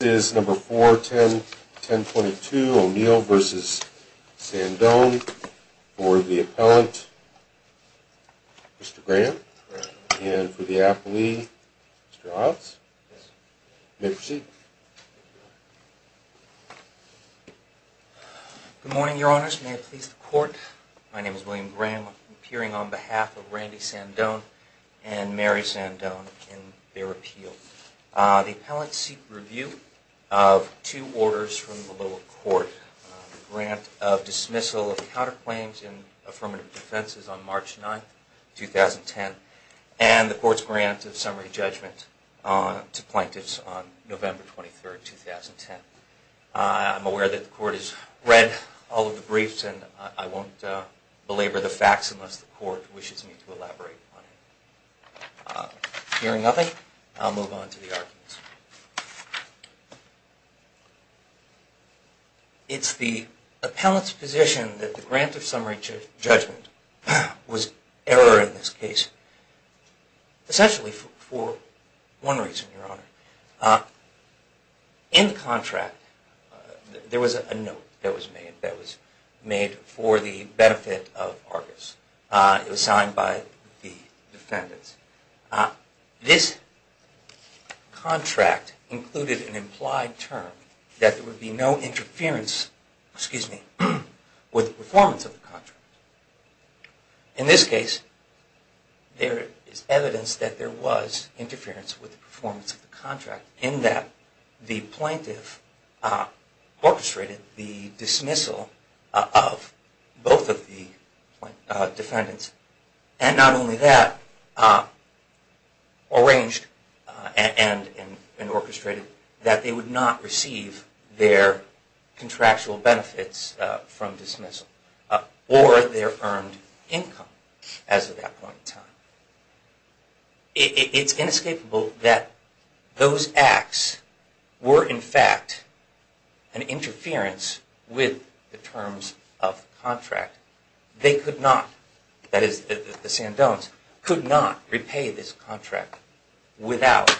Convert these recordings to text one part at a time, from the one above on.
This is No. 4, 1022 O'Neill v. Sandone for the appellant, Mr. Graham, and for the appellee, Mr. Hobbs. You may proceed. Good morning, Your Honors. May it please the Court, my name is William Graham. I'm appearing on behalf of Randy Sandone and Mary Sandone in their appeal. The appellant seek review of two orders from the lower court, the grant of dismissal of counterclaims in affirmative defenses on March 9, 2010, and the Court's grant of summary judgment to plaintiffs on November 23, 2010. I'm aware that the Court has read all of the briefs and I won't belabor the facts unless the Court wishes me to elaborate on it. Hearing nothing, I'll move on to the arguments. It's the appellant's position that the grant of summary judgment was error in this case, essentially for one reason, Your Honor. In the contract, there was a note that was made for the benefit of Argus. It was signed by the defendants. This contract included an implied term that there would be no interference with the performance of the contract. In this case, there is evidence that there was interference with the performance of the contract in that the plaintiff orchestrated the dismissal of both of the defendants. And not only that, arranged and orchestrated that they would not receive their contractual benefits from dismissal or their earned income as of that point in time. It's inescapable that those acts were in fact an interference with the terms of the contract. They could not, that is the Sandones, could not repay this contract without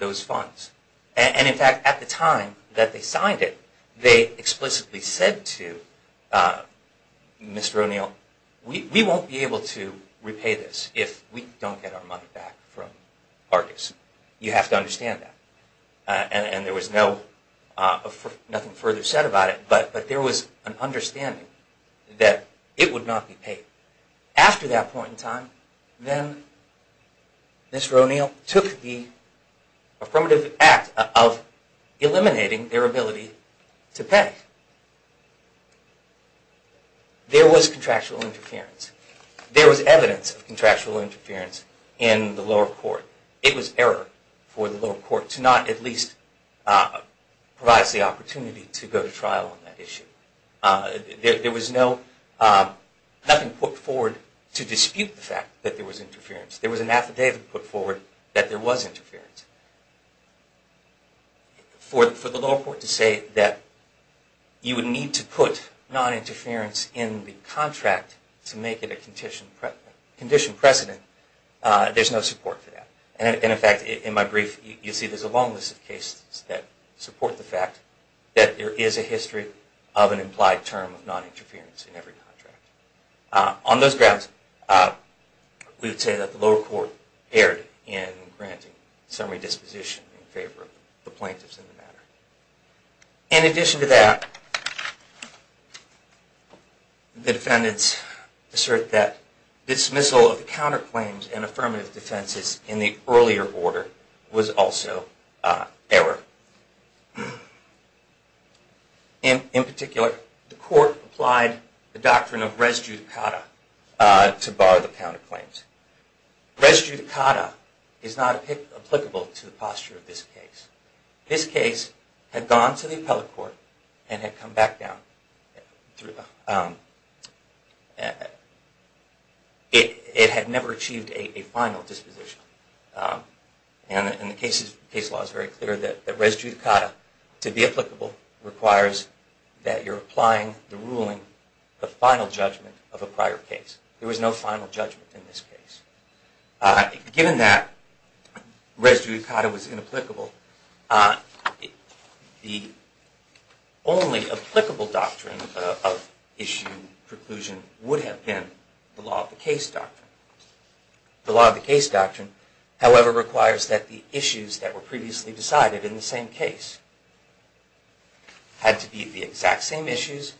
those funds. And in fact, at the time that they signed it, they explicitly said to Mr. O'Neill, we won't be able to repay this if we don't get our money back from Argus. You have to understand that. And there was nothing further said about it, but there was an understanding that it would not be paid. After that point in time, then Mr. O'Neill took the affirmative act of eliminating their ability to pay. There was contractual interference. There was evidence of contractual interference in the lower court. It was error for the lower court to not at least provide the opportunity to go to trial on that issue. There was no, nothing put forward to dispute the fact that there was interference. There was an affidavit put forward that there was interference. For the lower court to say that you would need to put non-interference in the contract to make it a condition precedent, there's no support for that. And in fact, in my brief, you'll see there's a long list of cases that support the fact that there is a history of an implied term of non-interference in every contract. On those grounds, we would say that the lower court erred in granting summary disposition in favor of the plaintiffs in the matter. In addition to that, the defendants assert that dismissal of the counterclaims and affirmative defenses in the earlier order was also error. In particular, the court applied the doctrine of res judicata to bar the counterclaims. Res judicata is not applicable to the posture of this case. This case had gone to the appellate court and had come back down. It had never achieved a final disposition. And the case law is very clear that res judicata, to be applicable, requires that you're applying the ruling, the final judgment of a prior case. There was no final judgment in this case. Given that res judicata was inapplicable, the only applicable doctrine of issue preclusion would have been the law of the case doctrine. The law of the case doctrine, however, requires that the issues that were previously decided in the same case had to be the exact same issues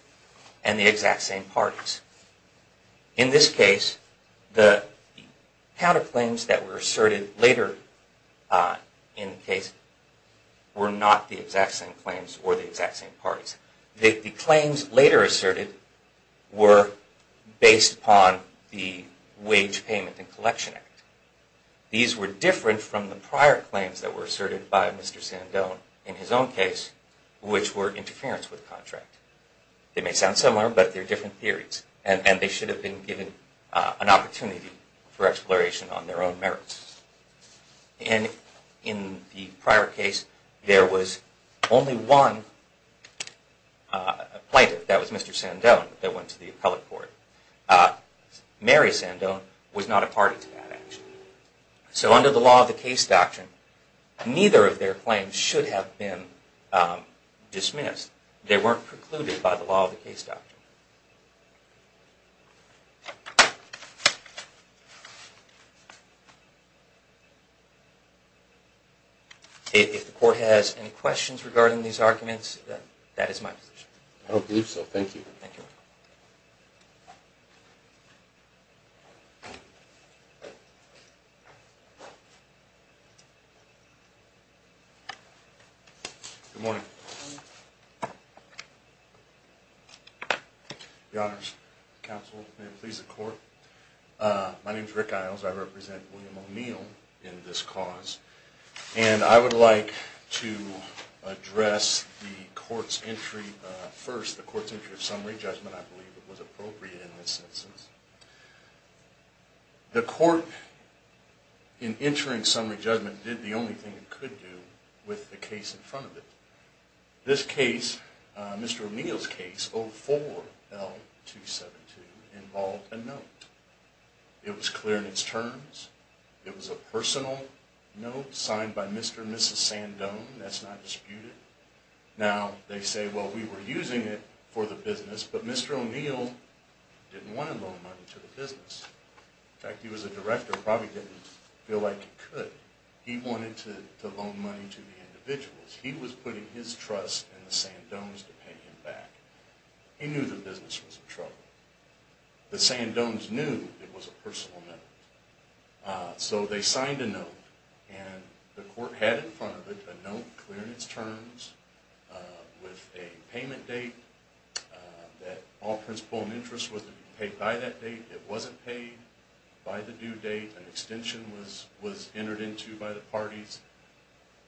and the exact same parties. In this case, the counterclaims that were asserted later in the case were not the exact same claims or the exact same parties. The claims later asserted were based upon the Wage Payment and Collection Act. These were different from the prior claims that were asserted by Mr. Sandone in his own case, which were interference with contract. They may sound similar, but they're different theories. And they should have been given an opportunity for exploration on their own merits. In the prior case, there was only one plaintiff. That was Mr. Sandone that went to the appellate court. Mary Sandone was not a party to that action. So under the law of the case doctrine, neither of their claims should have been dismissed. They weren't precluded by the law of the case doctrine. If the court has any questions regarding these arguments, that is my position. I don't believe so. Thank you. Thank you. Good morning. Good morning. Your honors, counsel, may it please the court. My name is Rick Iles. I represent William O'Neill in this cause. And I would like to address the court's entry first, the court's entry of summary judgment. I believe it was appropriate in this instance. The court, in entering summary judgment, did the only thing it could do with the case in front of it. This case, Mr. O'Neill's case, 04L272, involved a note. It was clear in its terms. It was a personal note signed by Mr. and Mrs. Sandone. That's not disputed. Now, they say, well, we were using it for the business, but Mr. O'Neill didn't want to loan money to the business. In fact, he was a director, probably didn't feel like he could. He wanted to loan money to the individuals. He was putting his trust in the Sandones to pay him back. He knew the business was in trouble. The Sandones knew it was a personal note. So they signed a note, and the court had in front of it a note clear in its terms with a payment date, that all principal and interest was to be paid by that date. It wasn't paid by the due date. An extension was entered into by the parties.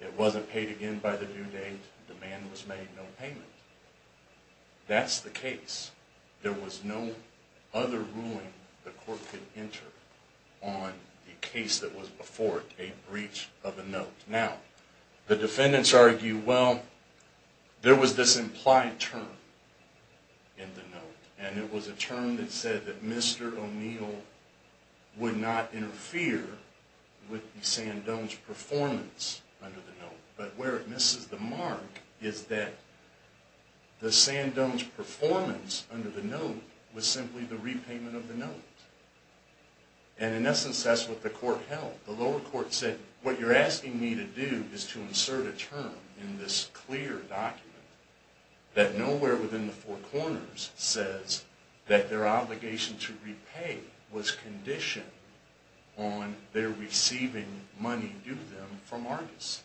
It wasn't paid again by the due date. Demand was made, no payment. That's the case. There was no other ruling the court could enter on the case that was before it, a breach of a note. Now, the defendants argue, well, there was this implied term in the note, and it was a term that said that Mr. O'Neill would not interfere with the Sandones' performance under the note. But where it misses the mark is that the Sandones' performance under the note was simply the repayment of the note. And in essence, that's what the court held. The lower court said, what you're asking me to do is to insert a term in this clear document that nowhere within the four corners says that their obligation to repay was conditioned on their receiving money due to them from Argus.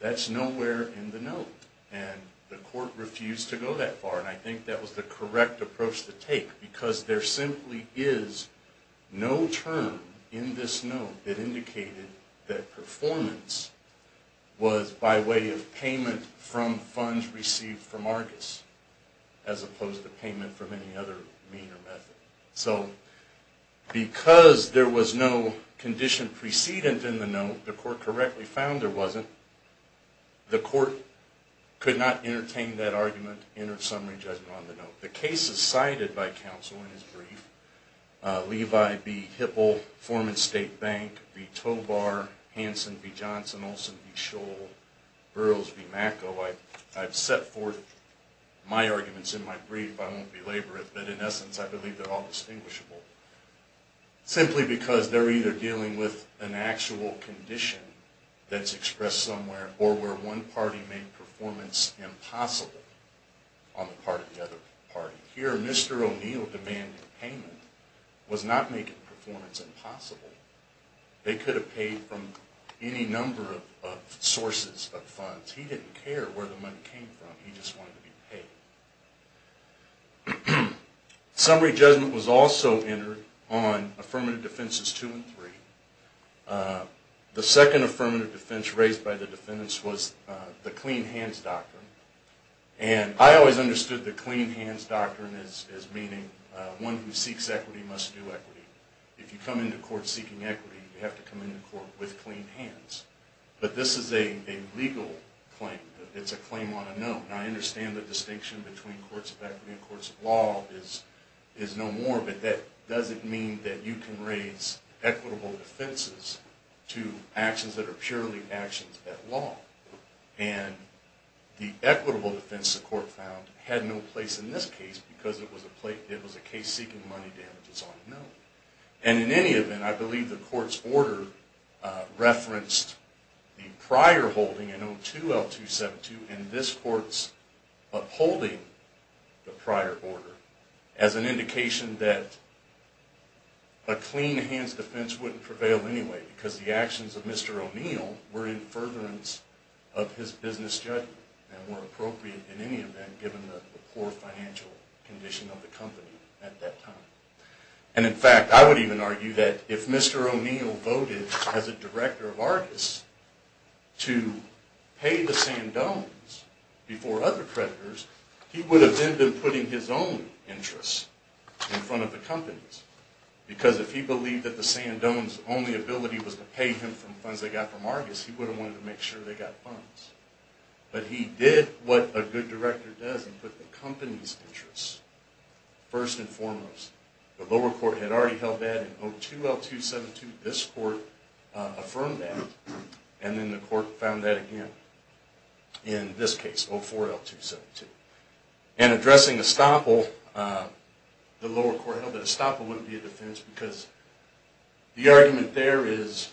That's nowhere in the note, and the court refused to go that far. And I think that was the correct approach to take, because there simply is no term in this note that indicated that performance was by way of payment from funds received from Argus, as opposed to payment from any other mean or method. So because there was no condition precedent in the note, the court correctly found there wasn't, the court could not entertain that argument in a summary judgment on the note. The cases cited by counsel in his brief, Levi v. Hipple, Foreman State Bank v. Tobar, Hanson v. Johnson, Olson v. Scholl, Burroughs v. Macco, I've set forth my arguments in my brief, I won't belabor it, but in essence I believe they're all distinguishable, simply because they're either dealing with an actual condition that's expressed somewhere, or where one party made performance impossible on the part of the other party. Here, Mr. O'Neill demanded payment, was not making performance impossible. They could have paid from any number of sources of funds. He didn't care where the money came from, he just wanted to be paid. Summary judgment was also entered on Affirmative Defenses 2 and 3. The second affirmative defense raised by the defendants was the Clean Hands Doctrine. And I always understood the Clean Hands Doctrine as meaning, one who seeks equity must do equity. If you come into court seeking equity, you have to come into court with clean hands. But this is a legal claim, it's a claim on a note. Now I understand the distinction between courts of equity and courts of law is no more, but that doesn't mean that you can raise equitable defenses to actions that are purely actions at law. And the equitable defense the court found had no place in this case, because it was a case seeking money damages on a note. And in any event, I believe the court's order referenced the prior holding in O2L272 and this court's upholding the prior order as an indication that a clean hands defense wouldn't prevail anyway, because the actions of Mr. O'Neill were in furtherance of his business judgment and were appropriate in any event given the poor financial condition of the company at that time. And in fact, I would even argue that if Mr. O'Neill voted as a director of Argus to pay the Sandones before other creditors, he would have ended up putting his own interests in front of the company's. Because if he believed that the Sandones' only ability was to pay him from funds they got from Argus, he would have wanted to make sure they got funds. But he did what a good director does and put the company's interests first and foremost. The lower court had already held that in O2L272. This court affirmed that and then the court found that again in this case, O4L272. And addressing Estoppel, the lower court held that Estoppel wouldn't be a defense because the argument there is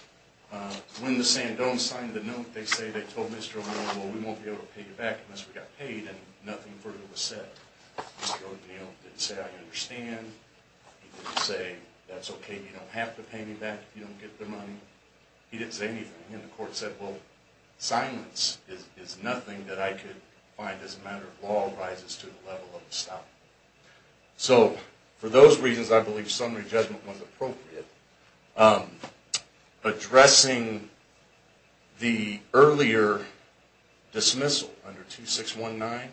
when the Sandones signed the note, they say they told Mr. O'Neill, well, we won't be able to pay you back unless we got paid and nothing further was said. Mr. O'Neill didn't say, I understand. He didn't say, that's okay, you don't have to pay me back if you don't get the money. He didn't say anything. And the court said, well, silence is nothing that I could find as a matter of law rises to the level of Estoppel. So for those reasons, I believe summary judgment was appropriate. Addressing the earlier dismissal under 2619,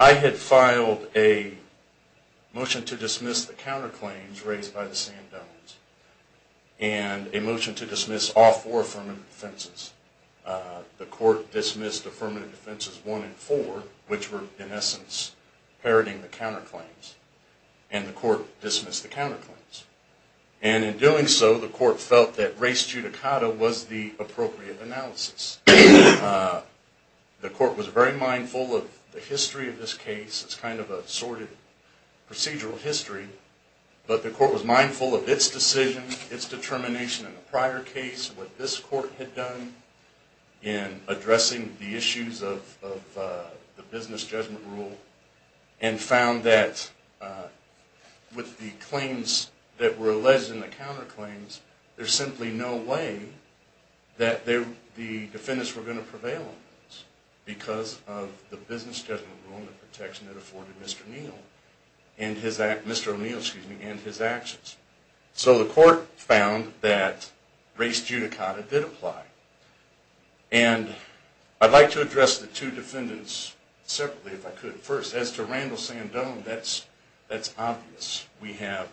I had filed a motion to dismiss the counterclaims raised by the Sandones and a motion to dismiss all four affirmative defenses. The court dismissed affirmative defenses one and four, which were in essence parroting the counterclaims. And the court dismissed the counterclaims. And in doing so, the court felt that res judicata was the appropriate analysis. The court was very mindful of the history of this case. It's kind of a sorted procedural history. But the court was mindful of its decision, its determination in the prior case, what this court had done in addressing the issues of the business judgment rule, and found that with the claims that were alleged in the counterclaims, there's simply no way that the defendants were going to prevail on this because of the business judgment rule and the protection that afforded Mr. O'Neill and his actions. So the court found that res judicata did apply. And I'd like to address the two defendants separately if I could. First, as to Randall Sandone, that's obvious. We have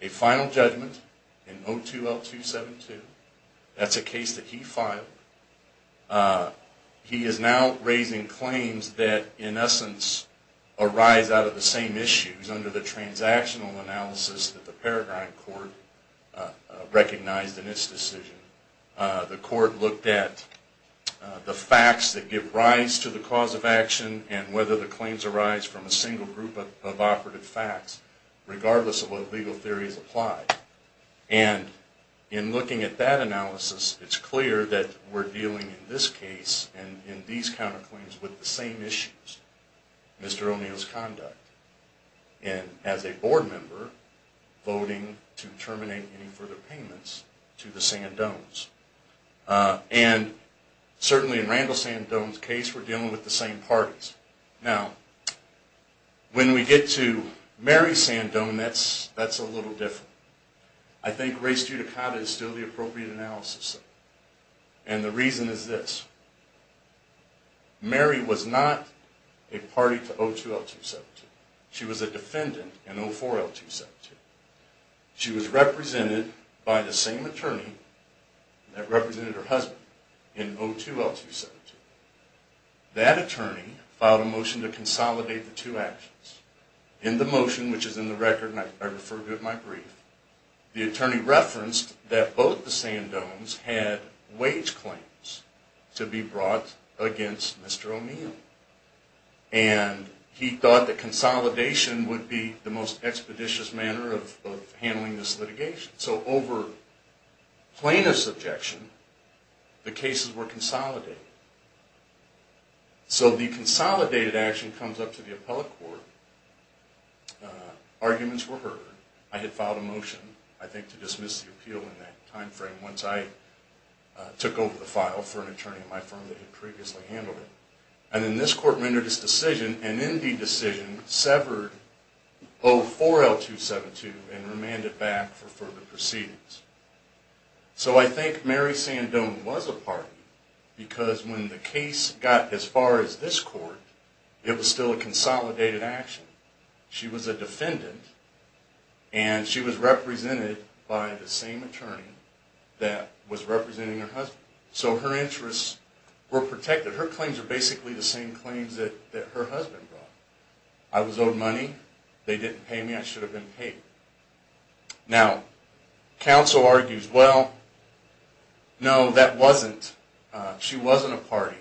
a final judgment in 02L272. That's a case that he filed. He is now raising claims that in essence arise out of the same issues under the transactional analysis that the Peregrine Court recognized in its decision. The court looked at the facts that give rise to the cause of action and whether the claims arise from a single group of operative facts regardless of what legal theory is applied. And in looking at that analysis, it's clear that we're dealing in this case and Mr. O'Neill's conduct and as a board member voting to terminate any further payments to the Sandones. And certainly in Randall Sandone's case, we're dealing with the same parties. Now, when we get to Mary Sandone, that's a little different. I think res judicata is still the appropriate analysis. And the reason is this. Mary was not a party to 02L272. She was a defendant in 04L272. She was represented by the same attorney that represented her husband in 02L272. That attorney filed a motion to consolidate the two actions. In the motion, which is in the record and I refer to it in my brief, the attorney referenced that both the Sandones had wage claims to be brought against Mr. O'Neill. And he thought that consolidation would be the most expeditious manner of handling this litigation. So over plaintiff's objection, the cases were consolidated. So the consolidated action comes up to the appellate court. Arguments were heard. I had filed a motion, I think, to dismiss the appeal in that time frame once I took over the file for an attorney at my firm that had previously handled it. And then this court rendered its decision, an Indy decision, severed 04L272 and remanded back for further proceedings. So I think Mary Sandone was a party because when the case got as far as this court, it was still a consolidated action. She was a defendant and she was represented by the same attorney that was representing her husband. So her interests were protected. Her claims are basically the same claims that her husband brought. I was owed money. They didn't pay me. I should have been paid. Now, counsel argues, well, no, that wasn't, she wasn't a party.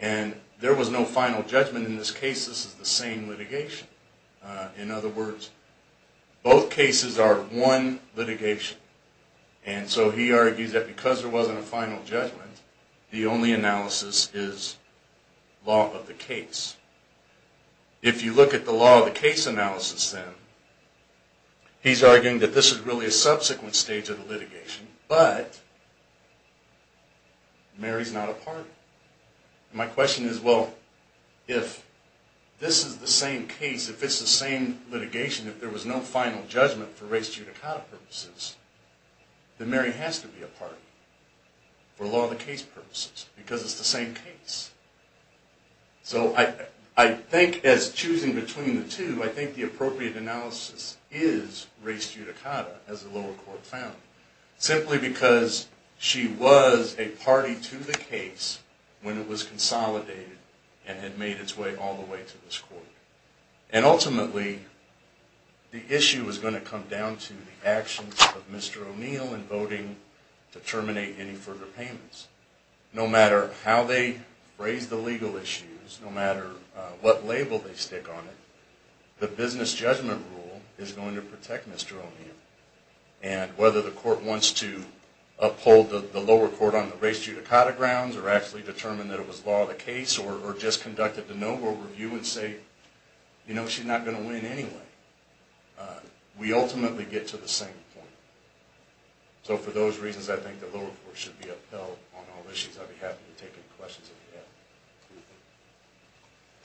And there was no final judgment in this case. This is the same litigation. In other words, both cases are one litigation. And so he argues that because there wasn't a final judgment, the only analysis is law of the case. If you look at the law of the case analysis then, he's arguing that this is really a subsequent stage of the litigation, but Mary's not a party. My question is, well, if this is the same case, if it's the same litigation, if there was no final judgment for res judicata purposes, then Mary has to be a party for law of the case purposes because it's the same case. So I think as choosing between the two, I think the appropriate analysis is res judicata as the lower court found, simply because she was a party to the case when it was consolidated and had made its way all the way to this court. And ultimately, the issue is going to come down to the actions of Mr. O'Neill in voting to terminate any further payments. No matter how they raise the legal issues, no matter what label they stick on it, the business judgment rule is going to protect Mr. O'Neill. And whether the court wants to uphold the lower court on the res judicata grounds or actually determine that it was law of the case or just conduct a de novo review and say, you know, she's not going to win anyway, we ultimately get to the same point. So for those reasons, I think the lower court should be upheld on all issues. I'd be happy to take any questions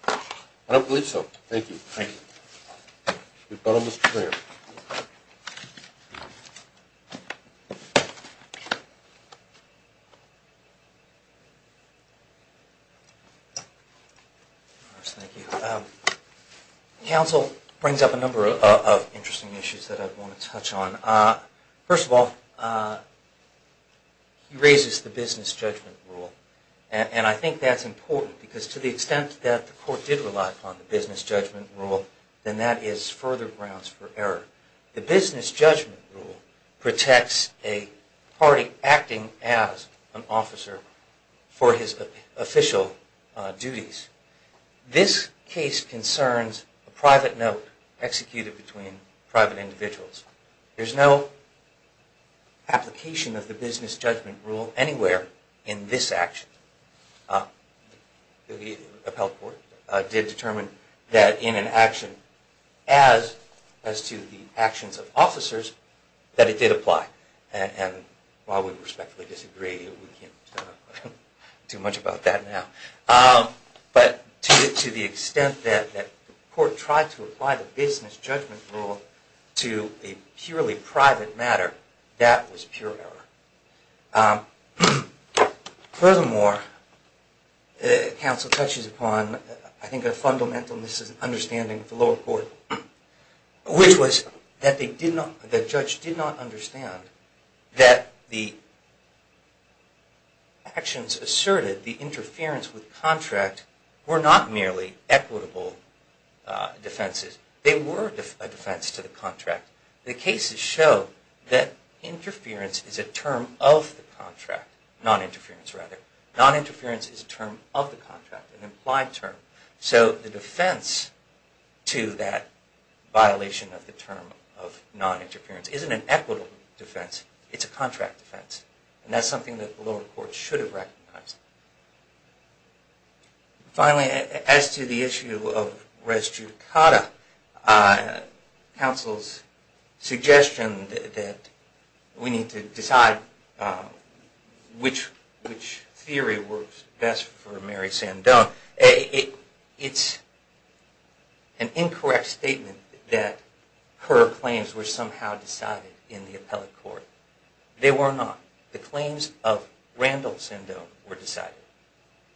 that you have. I don't believe so. Thank you. Thank you. We've got almost a minute. Counsel brings up a number of interesting issues that I want to touch on. First of all, he raises the business judgment rule. And I think that's important, because to the extent that the court did rely upon the business judgment rule, then that is further grounds for error. The business judgment rule protects a party acting as an officer for his official duties. This case concerns a private note executed between private individuals. There's no application of the business judgment rule anywhere in this action. The upheld court did determine that in an action as to the actions of officers that it did apply. And while we respectfully disagree, we can't do much about that now. But to the extent that the court tried to apply the business judgment rule to a purely private matter, that was pure error. Furthermore, counsel touches upon, I think, a fundamental misunderstanding of the lower court, which was that the judge did not understand that the actions asserted, the interference with contract, were not merely equitable defenses. They were a defense to the contract. The cases show that interference is a term of the contract, non-interference rather. Non-interference is a term of the contract, an implied term. So the defense to that violation of the term of non-interference isn't an equitable defense. It's a contract defense. And that's something that the lower court should have recognized. Finally, as to the issue of res judicata, counsel's suggestion that we need to decide which theory works best for Mary Sandone, it's an incorrect statement that her claims were somehow decided in the appellate court. They were not. The claims of Randall Sandone were decided.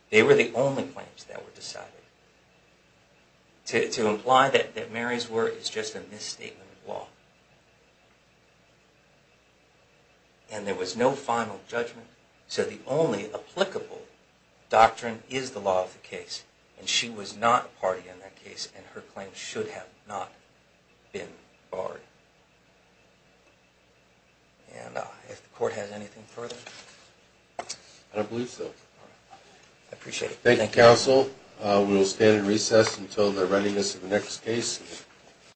They were the only claims that were decided. To imply that Mary's were is just a misstatement of law. And there was no final judgment. So the only applicable doctrine is the law of the case. And she was not a party in that case, and her claims should have not been barred. And if the court has anything further. I don't believe so. I appreciate it. Thank you, counsel. We will stand at recess until the readiness of the next case.